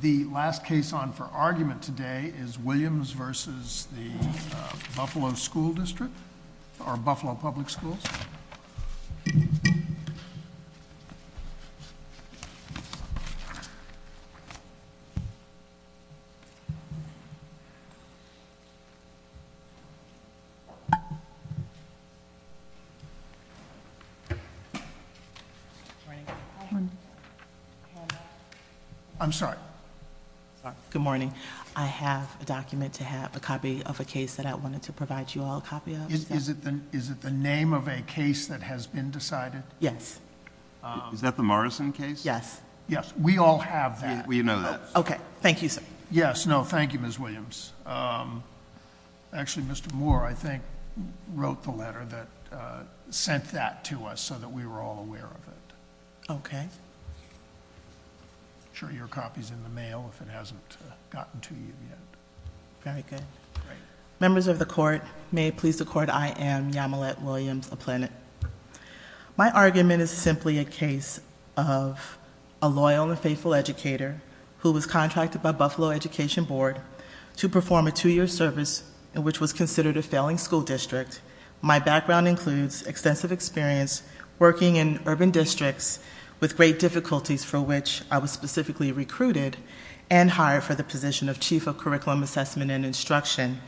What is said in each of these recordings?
The last case on for argument today is Williams v. Buffalo Public Schools. I'm sorry. Good morning. I have a document to have a copy of a case that I wanted to provide you all a copy of. Is it? Is it the name of a case that has been decided? Yes. Is that the Morrison case? Yes. Yes. We all have that. We know that. Okay. Thank you, sir. Yes. No, thank you, Ms. Williams. Um, actually, Mr. Moore, I think, wrote the letter that sent that to us so that we were all aware of it. Okay. Sure. Your copy is in the mail if it hasn't gotten to you yet. Very good. Members of the court, may it please the court, I am Yamilette Williams-Aplanit. My argument is simply a case of a loyal and faithful educator who was contracted by Buffalo Education Board to perform a two-year service in which was considered a failing school district. My background includes extensive experience working in urban districts with great difficulties for which I was specifically recruited and hired for the position of Chief of Curriculum Assessment and Instruction,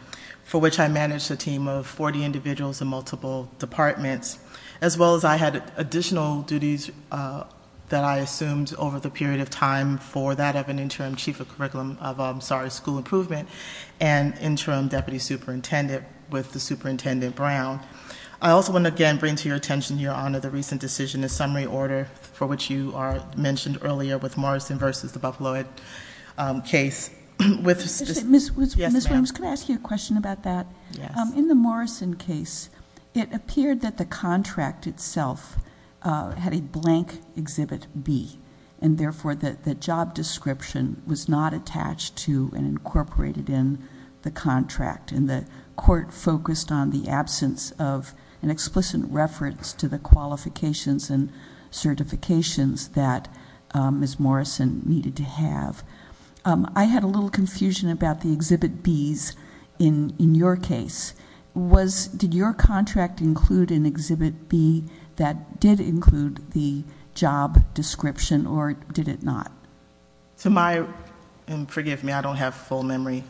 for which I managed a team of 40 individuals in multiple departments, as well as I had additional duties that I assumed over the period of time for that of an interim Chief of Curriculum of, I'm sorry, School Improvement and Interim Deputy Superintendent with the Superintendent Brown. I also want to again bring to your attention, Your Honor, the recent decision, the summary order for which you mentioned earlier with Morrison versus the Buffalo case with... Ms. Williams, can I ask you a question about that? Yes. In the Morrison case, it appeared that the contract itself had a blank Exhibit B, and therefore the job description was not attached to and incorporated in the contract, and the court focused on the absence of an explicit reference to the qualifications and certifications that Ms. Morrison needed to have. I had a little confusion about the Exhibit Bs in your case. Did your contract include an Exhibit B that did include the job description, or did it not? Forgive me, I don't have full memory.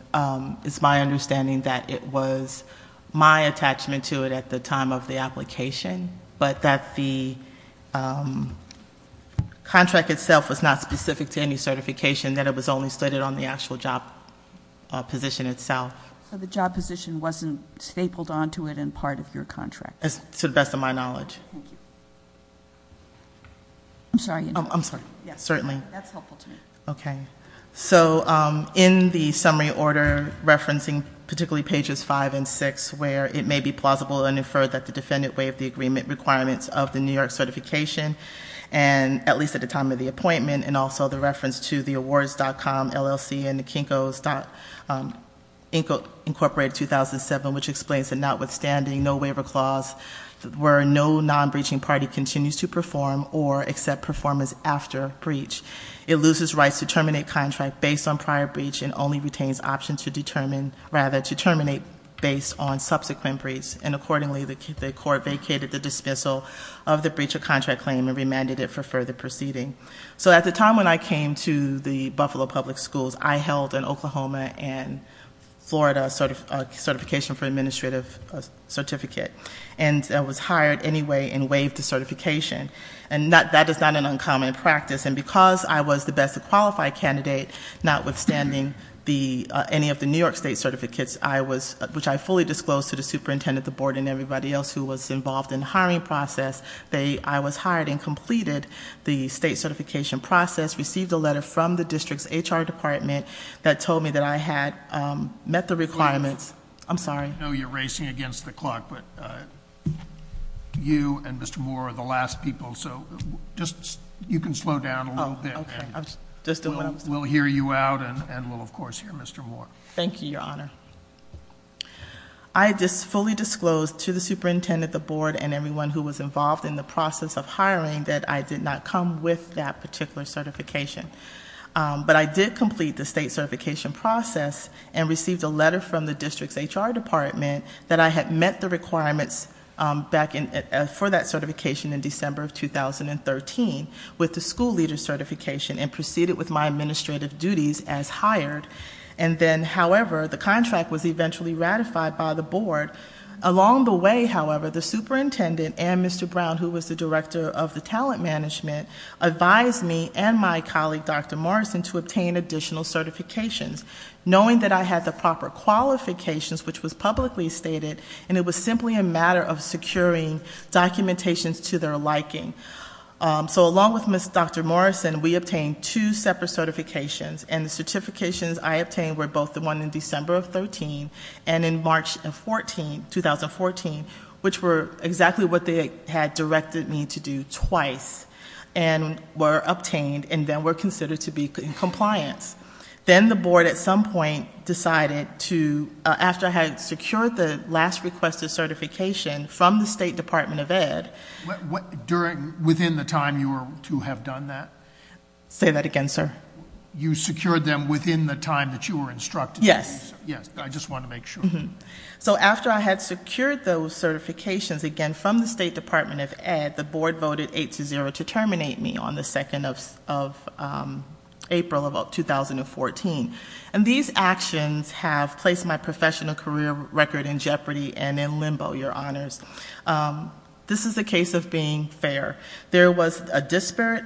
It's my understanding that it was my attachment to it at the time of the application, but that the contract itself was not specific to any certification, that it was only stated on the actual job position itself. So, the job position wasn't stapled onto it and part of your contract? To the best of my knowledge. Thank you. I'm sorry. I'm sorry. Yes, certainly. That's helpful to me. Okay. So, in the summary order, referencing particularly pages 5 and 6, where it may be plausible and inferred that the defendant waived the agreement requirements of the New York certification, and at least at the time of the appointment, and also the reference to the awards.com, LLC, and the Kinko's Inc. Incorporated 2007, which explains that notwithstanding no waiver clause, where no non-breaching party continues to perform or accept performance after breach, it loses rights to terminate contract based on prior breach and only retains option to determine, rather, to terminate based on subsequent breach. And accordingly, the court vacated the dismissal of the breach of contract claim and remanded it for further proceeding. So, at the time when I came to the Buffalo Public Schools, I held an Oklahoma and Florida certification for administrative certificate. And I was hired anyway and waived the certification. And that is not an uncommon practice. And because I was the best qualified candidate, notwithstanding any of the New York state certificates, which I fully disclosed to the superintendent, the board, and everybody else who was involved in the hiring process, I was hired and completed the state certification process. Received a letter from the district's HR department that told me that I had met the requirements. I'm sorry. I know you're racing against the clock, but you and Mr. Moore are the last people, so you can slow down a little bit. Okay, I'm just doing what I was told. We'll hear you out and we'll, of course, hear Mr. Moore. Thank you, Your Honor. I just fully disclosed to the superintendent, the board, and everyone who was involved in the process of hiring that I did not come with that particular certification. But I did complete the state certification process and received a letter from the district's HR department that I had met the requirements for that certification in December of 2013 with the school leader certification and proceeded with my administrative duties as hired. And then, however, the contract was eventually ratified by the board. Along the way, however, the superintendent and Mr. Brown, who was the director of the talent management, advised me and my colleague, Dr. Morrison, to obtain additional certifications, knowing that I had the proper qualifications, which was publicly stated, and it was simply a matter of securing documentations to their liking. So along with Dr. Morrison, we obtained two separate certifications, and the certifications I obtained were both the one in December of 2013 and in March of 2014, which were exactly what they had directed me to do twice, and were obtained and then were considered to be in compliance. Then the board, at some point, decided to, after I had secured the last requested certification from the State Department of Ed. Within the time you were to have done that? Say that again, sir. You secured them within the time that you were instructed to do so? Yes. Yes, I just want to make sure. So after I had secured those certifications, again, from the State Department of Ed, the board voted 8-0 to terminate me on the 2nd of April of 2014. And these actions have placed my professional career record in jeopardy and in limbo, Your Honors. This is a case of being fair. There was a disparate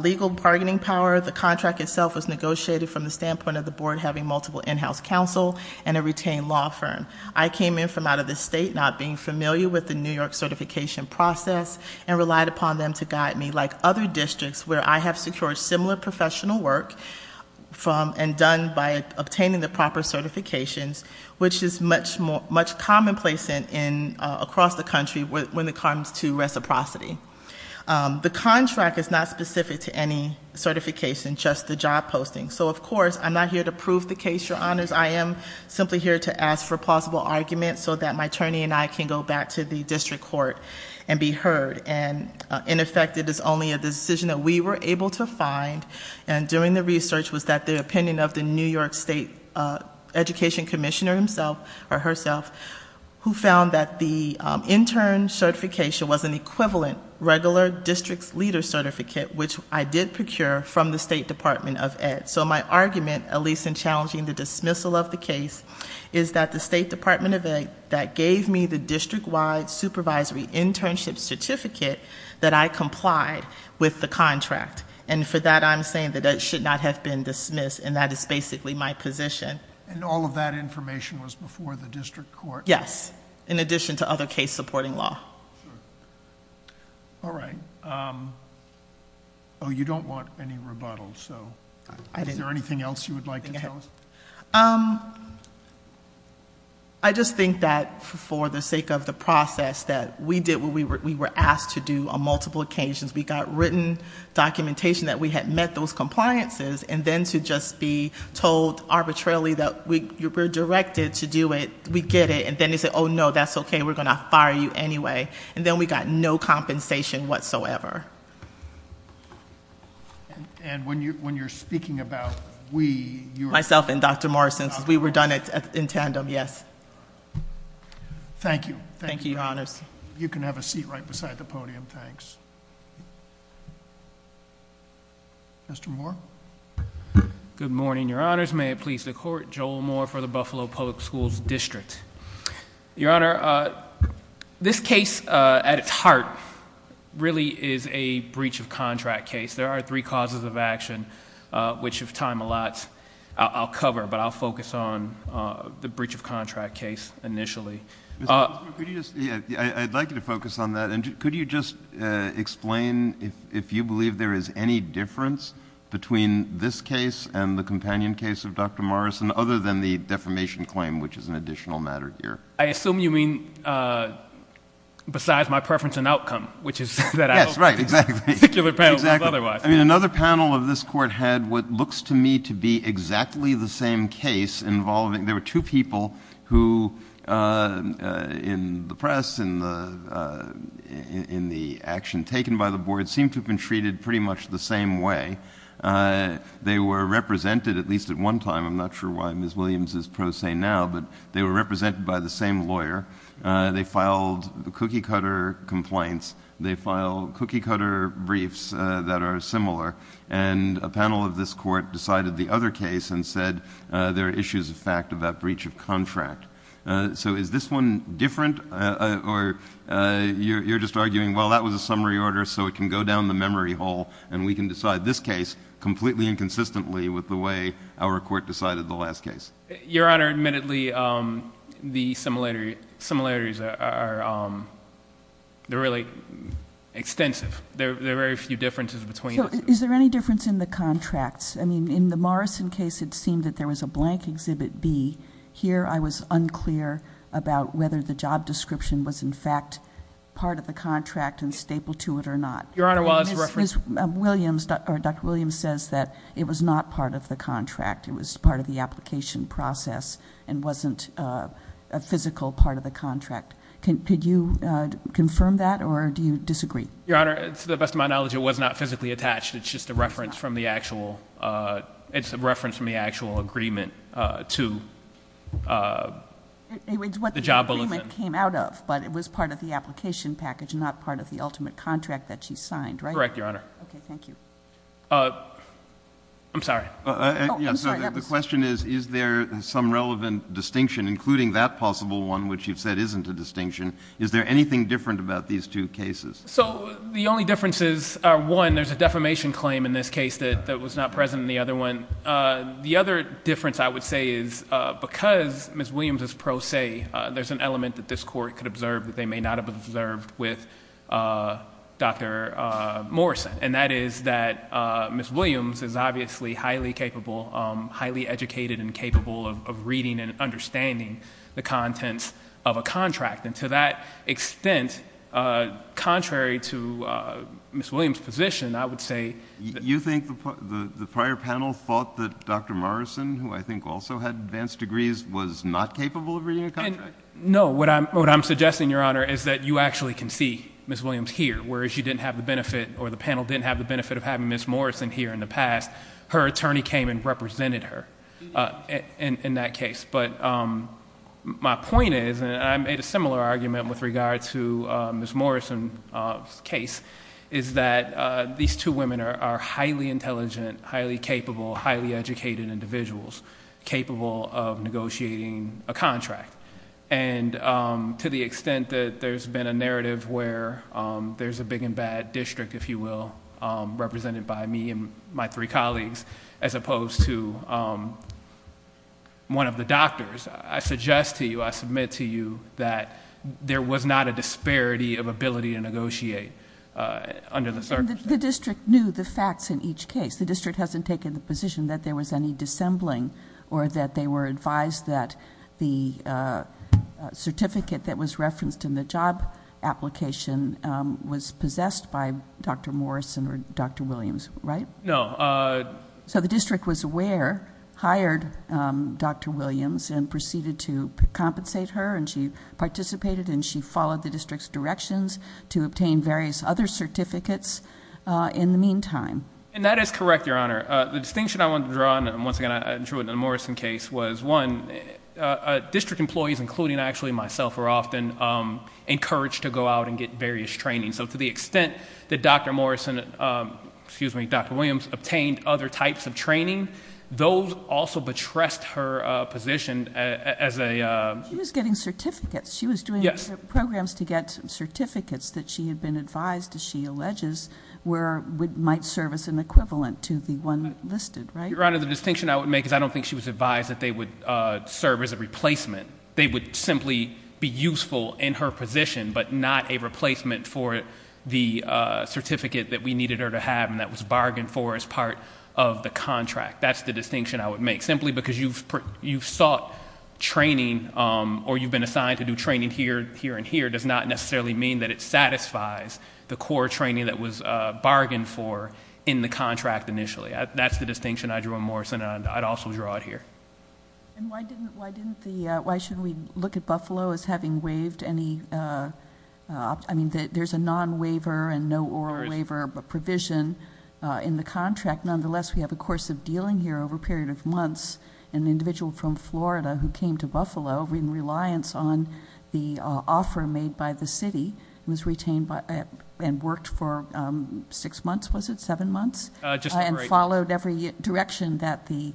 legal bargaining power. The contract itself was negotiated from the standpoint of the board having multiple in-house counsel and a retained law firm. I came in from out of the state not being familiar with the New York certification process and relied upon them to guide me, like other districts where I have secured similar professional work and done by obtaining the proper certifications, which is much commonplace across the country when it comes to reciprocity. The contract is not specific to any certification, just the job posting. So, of course, I'm not here to prove the case, Your Honors. I am simply here to ask for possible arguments so that my attorney and I can go back to the district court and be heard. And, in effect, it is only a decision that we were able to find. And during the research was that the opinion of the New York State Education Commissioner herself, who found that the intern certification was an equivalent regular district's leader certificate, which I did procure from the State Department of Ed. So my argument, at least in challenging the dismissal of the case, is that the State Department of Ed gave me the district-wide supervisory internship certificate that I complied with the contract. And for that, I'm saying that it should not have been dismissed, and that is basically my position. And all of that information was before the district court? Yes, in addition to other case-supporting law. All right. Oh, you don't want any rebuttals, so is there anything else you would like to tell us? I just think that, for the sake of the process, that we did what we were asked to do on multiple occasions. We got written documentation that we had met those compliances, and then to just be told arbitrarily that we're directed to do it, we get it. And then they say, oh, no, that's okay, we're going to fire you anyway. And then we got no compensation whatsoever. And when you're speaking about we, you're- Myself and Dr. Morrison, since we were done in tandem, yes. Thank you. Thank you, Your Honors. You can have a seat right beside the podium, thanks. Mr. Moore? Good morning, Your Honors. May it please the Court, Joel Moore for the Buffalo Public Schools District. Your Honor, this case at its heart really is a breach of contract case. There are three causes of action, which if time allots, I'll cover, but I'll focus on the breach of contract case initially. Mr. Moore, could you just-I'd like you to focus on that, and could you just explain if you believe there is any difference between this case and the companion case of Dr. Morrison other than the defamation claim, which is an additional matter here? I assume you mean besides my preference in outcome, which is that I don't- Yes, right, exactly. Particular panel was otherwise. Exactly. I mean, another panel of this Court had what looks to me to be exactly the same case involving- there were two people who in the press, in the action taken by the board, seemed to have been treated pretty much the same way. They were represented at least at one time. I'm not sure why Ms. Williams is pro se now, but they were represented by the same lawyer. They filed cookie-cutter complaints. They filed cookie-cutter briefs that are similar, and a panel of this Court decided the other case and said there are issues of fact about breach of contract. So is this one different, or you're just arguing, well, that was a summary order, so it can go down the memory hole and we can decide this case completely and consistently with the way our Court decided the last case? Your Honor, admittedly, the similarities are really extensive. There are very few differences between the two. So is there any difference in the contracts? I mean, in the Morrison case it seemed that there was a blank Exhibit B. Here I was unclear about whether the job description was in fact part of the contract and stapled to it or not. Dr. Williams says that it was not part of the contract. It was part of the application process and wasn't a physical part of the contract. Could you confirm that, or do you disagree? Your Honor, to the best of my knowledge, it was not physically attached. It's just a reference from the actual agreement to the job bulletin. So the document came out of, but it was part of the application package and not part of the ultimate contract that she signed, right? Correct, Your Honor. Okay, thank you. I'm sorry. The question is, is there some relevant distinction, including that possible one, which you've said isn't a distinction? Is there anything different about these two cases? So the only differences are, one, there's a defamation claim in this case that was not present in the other one. The other difference, I would say, is because Ms. Williams is pro se, there's an element that this Court could observe that they may not have observed with Dr. Morrison, and that is that Ms. Williams is obviously highly capable, highly educated and capable of reading and understanding the contents of a contract. And to that extent, contrary to Ms. Williams' position, I would say... You think the prior panel thought that Dr. Morrison, who I think also had advanced degrees, was not capable of reading a contract? No. What I'm suggesting, Your Honor, is that you actually can see Ms. Williams here, whereas you didn't have the benefit, or the panel didn't have the benefit of having Ms. Morrison here in the past. Her attorney came and represented her in that case. But my point is, and I made a similar argument with regard to Ms. Morrison's case, is that these two women are highly intelligent, highly capable, highly educated individuals, capable of negotiating a contract. And to the extent that there's been a narrative where there's a big and bad district, if you will, represented by me and my three colleagues, as opposed to one of the doctors, I suggest to you, I submit to you, that there was not a disparity of ability to negotiate under the circumstances. The district knew the facts in each case. The district hasn't taken the position that there was any dissembling, or that they were advised that the certificate that was referenced in the job application was possessed by Dr. Morrison or Dr. Williams, right? No. So the district was aware, hired Dr. Williams, and proceeded to compensate her, and she participated and she followed the district's directions to obtain various other certificates in the meantime. And that is correct, Your Honor. The distinction I want to draw, and once again I drew it in the Morrison case, was one, district employees, including actually myself, are often encouraged to go out and get various trainings. So to the extent that Dr. Morrison, excuse me, Dr. Williams, obtained other types of training, those also betressed her position as a- She was getting certificates. Yes. She was doing programs to get certificates that she had been advised, as she alleges, might serve as an equivalent to the one listed, right? Your Honor, the distinction I would make is I don't think she was advised that they would serve as a replacement. They would simply be useful in her position, but not a replacement for the certificate that we needed her to have and that was bargained for as part of the contract. That's the distinction I would make. Simply because you've sought training or you've been assigned to do training here and here does not necessarily mean that it satisfies the core training that was bargained for in the contract initially. That's the distinction I drew in Morrison, and I'd also draw it here. And why didn't the, why should we look at Buffalo as having waived any, I mean, there's a non-waiver and no oral waiver provision in the contract. Nonetheless, we have a course of dealing here over a period of months. An individual from Florida who came to Buffalo in reliance on the offer made by the city was retained and worked for six months, was it? Seven months? Just over a year. And followed every direction that the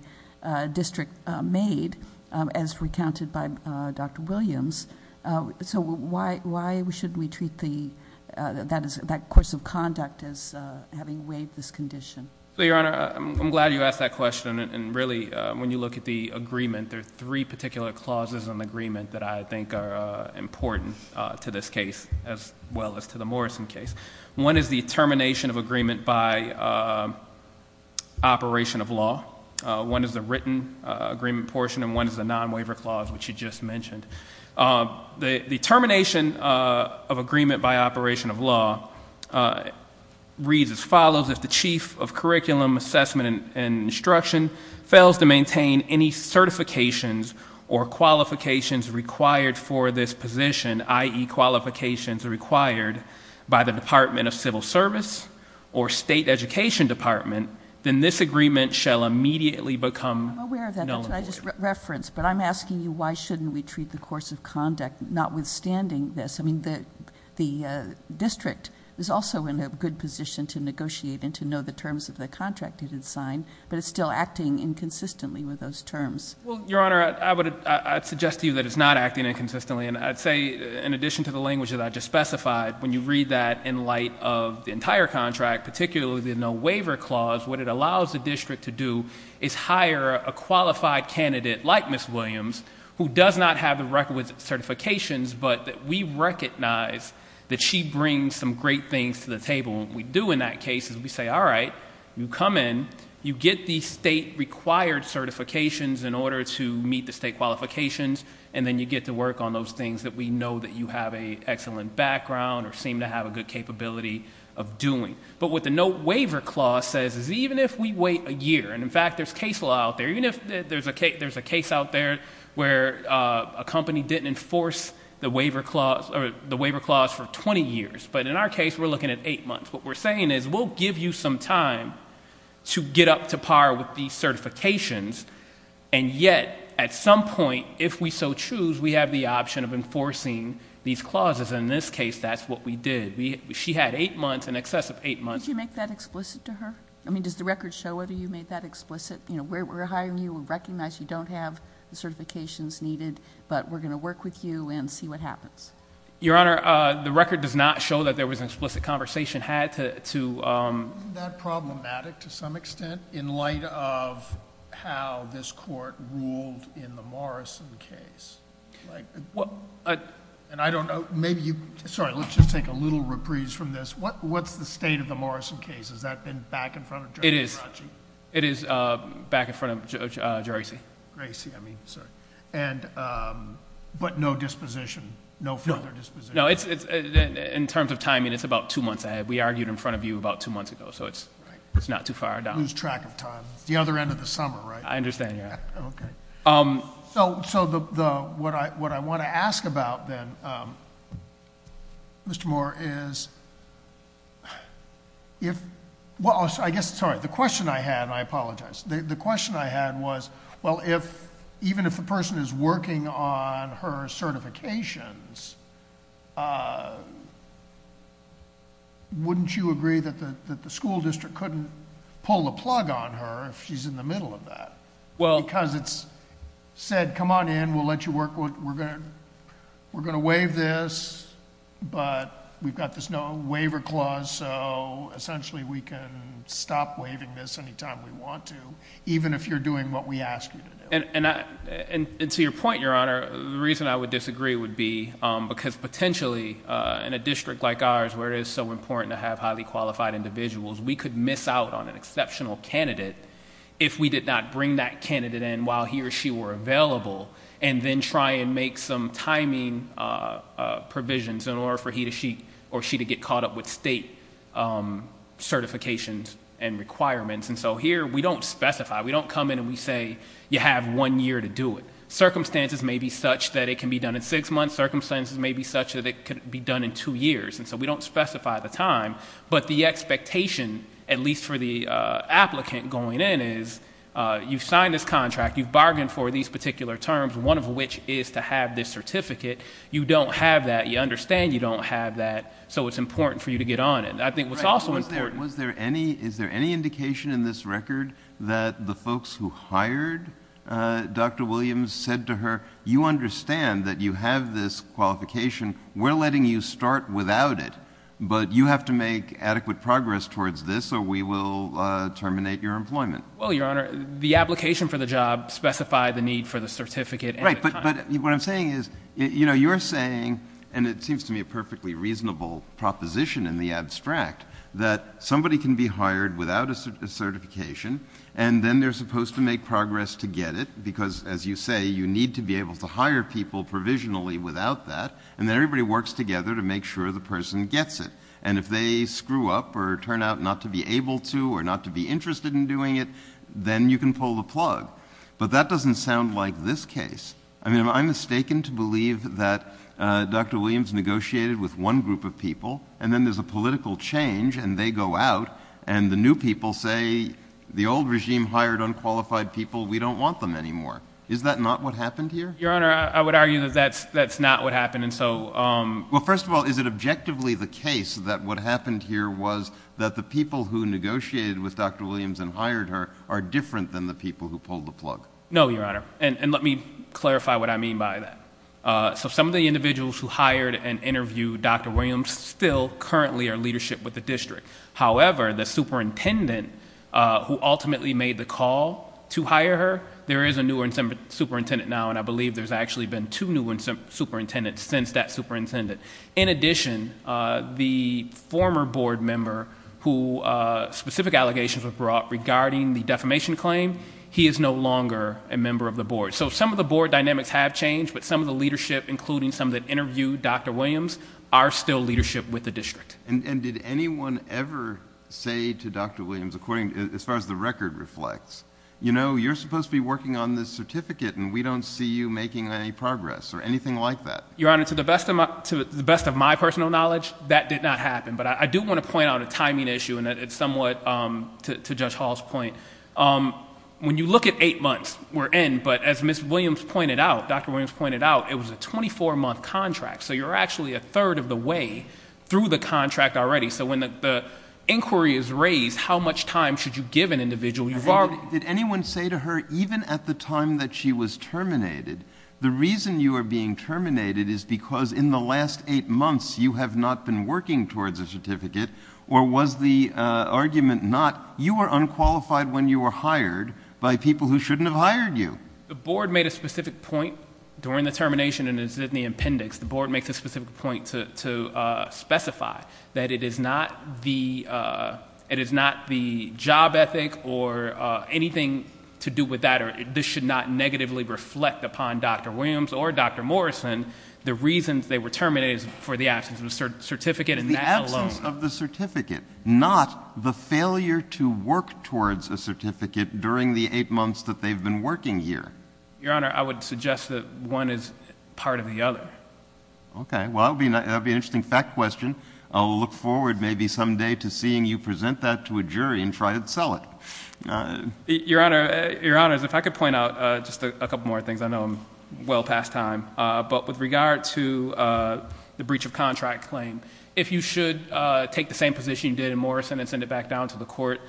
district made as recounted by Dr. Williams. So why shouldn't we treat that course of conduct as having waived this condition? Your Honor, I'm glad you asked that question and really when you look at the agreement, there are three particular clauses in the agreement that I think are important to this case as well as to the Morrison case. One is the termination of agreement by operation of law. One is the written agreement portion and one is the non-waiver clause which you just mentioned. The termination of agreement by operation of law reads as follows, if the chief of curriculum assessment and instruction fails to maintain any certifications or qualifications required for this position, i.e., qualifications required by the Department of Civil Service or State Education Department, then this agreement shall immediately become null and void. I'm aware of that, but I just referenced. But I'm asking you why shouldn't we treat the course of conduct notwithstanding this? I mean the district is also in a good position to negotiate and to know the terms of the contract it had signed, Well, Your Honor, I would suggest to you that it's not acting inconsistently and I'd say in addition to the language that I just specified, when you read that in light of the entire contract, particularly the no waiver clause, what it allows the district to do is hire a qualified candidate like Ms. Williams, who does not have the record with certifications, but that we recognize that she brings some great things to the table. And what we do in that case is we say, all right, you come in, you get the state required certifications in order to meet the state qualifications, and then you get to work on those things that we know that you have an excellent background or seem to have a good capability of doing. But what the no waiver clause says is even if we wait a year, and in fact there's case law out there, even if there's a case out there where a company didn't enforce the waiver clause for 20 years, but in our case we're looking at eight months. What we're saying is we'll give you some time to get up to par with these certifications, and yet at some point, if we so choose, we have the option of enforcing these clauses, and in this case that's what we did. She had eight months, in excess of eight months. Did you make that explicit to her? I mean, does the record show whether you made that explicit? You know, we're hiring you, we recognize you don't have the certifications needed, but we're going to work with you and see what happens. Your Honor, the record does not show that there was an explicit conversation had to... Wasn't that problematic to some extent in light of how this court ruled in the Morrison case? And I don't know, maybe you... Sorry, let's just take a little reprise from this. What's the state of the Morrison case? Has that been back in front of Judge Geraci? It is back in front of Judge Geraci. Geraci, I mean, sorry. But no disposition, no further disposition? No. In terms of timing, it's about two months ahead. We argued in front of you about two months ago, so it's not too far down. Lose track of time. It's the other end of the summer, right? I understand, yeah. Okay. So what I want to ask about then, Mr. Moore, is if... Well, I guess, sorry, the question I had, and I apologize. The question I had was, well, even if a person is working on her certifications, wouldn't you agree that the school district couldn't pull the plug on her if she's in the middle of that? Well... Because it's said, come on in, we'll let you work. We're going to waive this, but we've got this no waiver clause, so essentially we can stop waiving this any time we want to, even if you're doing what we ask you to do. And to your point, Your Honor, the reason I would disagree would be because potentially, in a district like ours where it is so important to have highly qualified individuals, we could miss out on an exceptional candidate if we did not bring that candidate in while he or she were available, and then try and make some timing provisions in order for he or she to get caught up with state certifications and requirements. And so here we don't specify. We don't come in and we say you have one year to do it. Circumstances may be such that it can be done in six months. Circumstances may be such that it can be done in two years. And so we don't specify the time. But the expectation, at least for the applicant going in, is you've signed this contract, you've bargained for these particular terms, one of which is to have this certificate. You don't have that. You understand you don't have that, so it's important for you to get on it. I think what's also important – Was there any indication in this record that the folks who hired Dr. Williams said to her, you understand that you have this qualification, we're letting you start without it, but you have to make adequate progress towards this or we will terminate your employment. Well, Your Honor, the application for the job specified the need for the certificate. Right, but what I'm saying is you're saying, and it seems to me a perfectly reasonable proposition in the abstract, that somebody can be hired without a certification and then they're supposed to make progress to get it because, as you say, you need to be able to hire people provisionally without that, and then everybody works together to make sure the person gets it. And if they screw up or turn out not to be able to or not to be interested in doing it, then you can pull the plug. But that doesn't sound like this case. I mean, I'm mistaken to believe that Dr. Williams negotiated with one group of people and then there's a political change and they go out and the new people say, the old regime hired unqualified people, we don't want them anymore. Is that not what happened here? Your Honor, I would argue that that's not what happened. Well, first of all, is it objectively the case that what happened here was that the people who negotiated with Dr. Williams and hired her are different than the people who pulled the plug? No, Your Honor, and let me clarify what I mean by that. Some of the individuals who hired and interviewed Dr. Williams still currently are leadership with the district. However, the superintendent who ultimately made the call to hire her, there is a newer superintendent now, and I believe there's actually been two new superintendents since that superintendent. In addition, the former board member who specific allegations were brought regarding the defamation claim, he is no longer a member of the board. So some of the board dynamics have changed, but some of the leadership, including some that interviewed Dr. Williams, are still leadership with the district. And did anyone ever say to Dr. Williams, as far as the record reflects, you know, you're supposed to be working on this certificate and we don't see you making any progress or anything like that? Your Honor, to the best of my personal knowledge, that did not happen. But I do want to point out a timing issue, and it's somewhat to Judge Hall's point. When you look at 8 months we're in, but as Ms. Williams pointed out, Dr. Williams pointed out, it was a 24-month contract, so you're actually a third of the way through the contract already. So when the inquiry is raised, how much time should you give an individual? Did anyone say to her, even at the time that she was terminated, the reason you are being terminated is because in the last 8 months you have not been working towards a certificate, or was the argument not you were unqualified when you were hired by people who shouldn't have hired you? The board made a specific point during the termination and is in the appendix. The board makes a specific point to specify that it is not the job ethic or anything to do with that. This should not negatively reflect upon Dr. Williams or Dr. Morrison the reasons they were terminated for the absence of a certificate and that alone. The absence of the certificate, not the failure to work towards a certificate during the 8 months that they've been working here. Your Honor, I would suggest that one is part of the other. Okay. Well, that would be an interesting fact question. I'll look forward maybe someday to seeing you present that to a jury and try to sell it. Your Honor, if I could point out just a couple more things. I know I'm well past time. But with regard to the breach of contract claim, if you should take the same position you did in Morrison and send it back down to the court,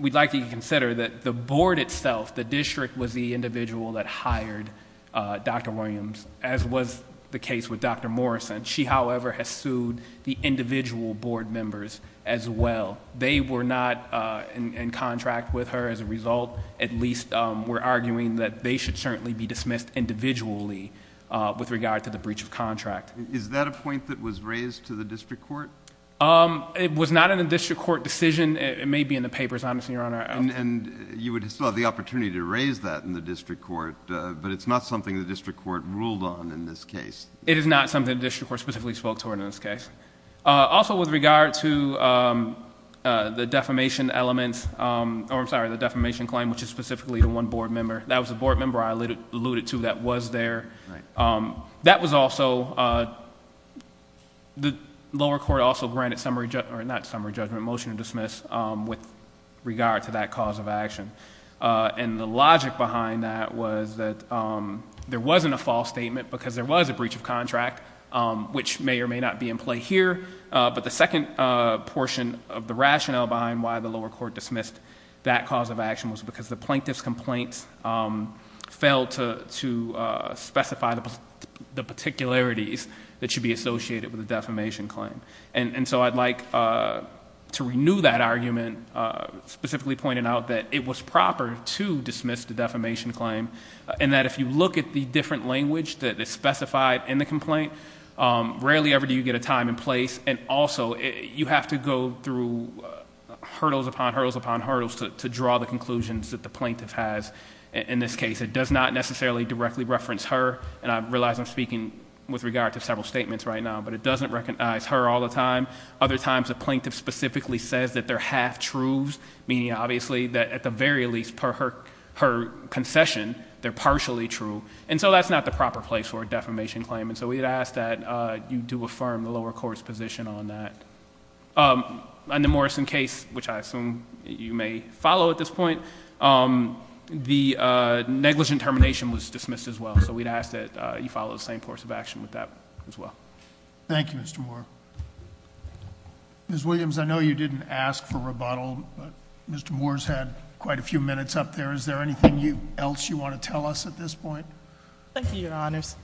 we'd like you to consider that the board itself, the district, was the individual that hired Dr. Williams, as was the case with Dr. Morrison. She, however, has sued the individual board members as well. They were not in contract with her as a result. At least we're arguing that they should certainly be dismissed individually with regard to the breach of contract. Is that a point that was raised to the district court? It was not in the district court decision. It may be in the papers, honestly, Your Honor. And you would still have the opportunity to raise that in the district court, but it's not something the district court ruled on in this case. It is not something the district court specifically spoke to in this case. Also, with regard to the defamation claim, which is specifically the one board member, that was a board member I alluded to that was there. The lower court also granted motion to dismiss with regard to that cause of action. And the logic behind that was that there wasn't a false statement because there was a breach of contract, which may or may not be in play here. But the second portion of the rationale behind why the lower court dismissed that cause of action was because the plaintiff's complaint failed to specify the particularities that should be associated with a defamation claim. And so I'd like to renew that argument, specifically pointing out that it was proper to dismiss the defamation claim and that if you look at the different language that is specified in the complaint, rarely ever do you get a time and place. And also, you have to go through hurdles upon hurdles upon hurdles to draw the conclusions that the plaintiff has in this case. It does not necessarily directly reference her, and I realize I'm speaking with regard to several statements right now, but it doesn't recognize her all the time. Other times, the plaintiff specifically says that they're half-truths, meaning obviously that at the very least, per her concession, they're partially true. And so that's not the proper place for a defamation claim. And so we'd ask that you do affirm the lower court's position on that. On the Morrison case, which I assume you may follow at this point, the negligent termination was dismissed as well. So we'd ask that you follow the same course of action with that as well. Thank you, Mr. Moore. Ms. Williams, I know you didn't ask for rebuttal, but Mr. Moore's had quite a few minutes up there. Is there anything else you want to tell us at this point? Thank you, Your Honors.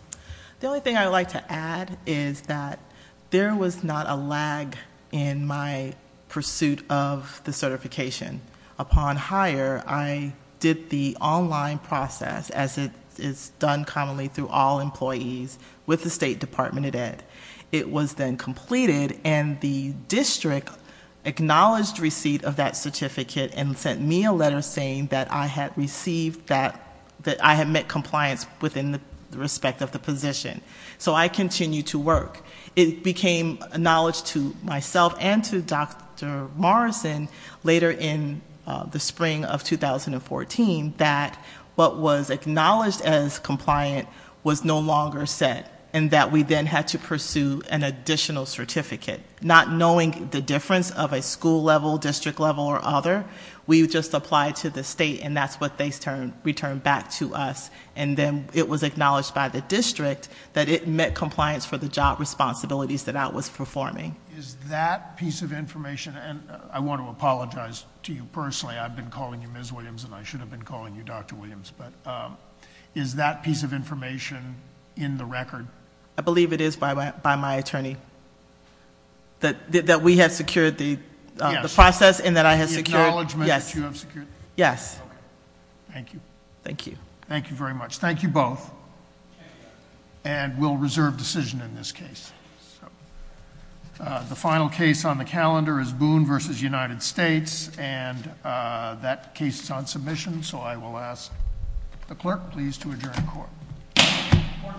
The only thing I'd like to add is that there was not a lag in my pursuit of the certification. Upon hire, I did the online process, as is done commonly through all employees, with the State Department of Ed. It was then completed, and the district acknowledged receipt of that certificate and sent me a letter saying that I had received that, that I had met compliance within the respect of the position. So I continued to work. It became a knowledge to myself and to Dr. Morrison later in the spring of 2014 that what was acknowledged as compliant was no longer set and that we then had to pursue an additional certificate. Not knowing the difference of a school level, district level, or other, we just applied to the state, and that's what they returned back to us. Then it was acknowledged by the district that it met compliance for the job responsibilities that I was performing. Is that piece of information, and I want to apologize to you personally. I've been calling you Ms. Williams, and I should have been calling you Dr. Williams, but is that piece of information in the record? I believe it is by my attorney, that we have secured the process and that I have secured... The acknowledgment that you have secured? Yes. Thank you. Thank you. Thank you very much. Thank you both, and we'll reserve decision in this case. The final case on the calendar is Boone v. United States, and that case is on submission, so I will ask the clerk please to adjourn the court. The court is adjourned.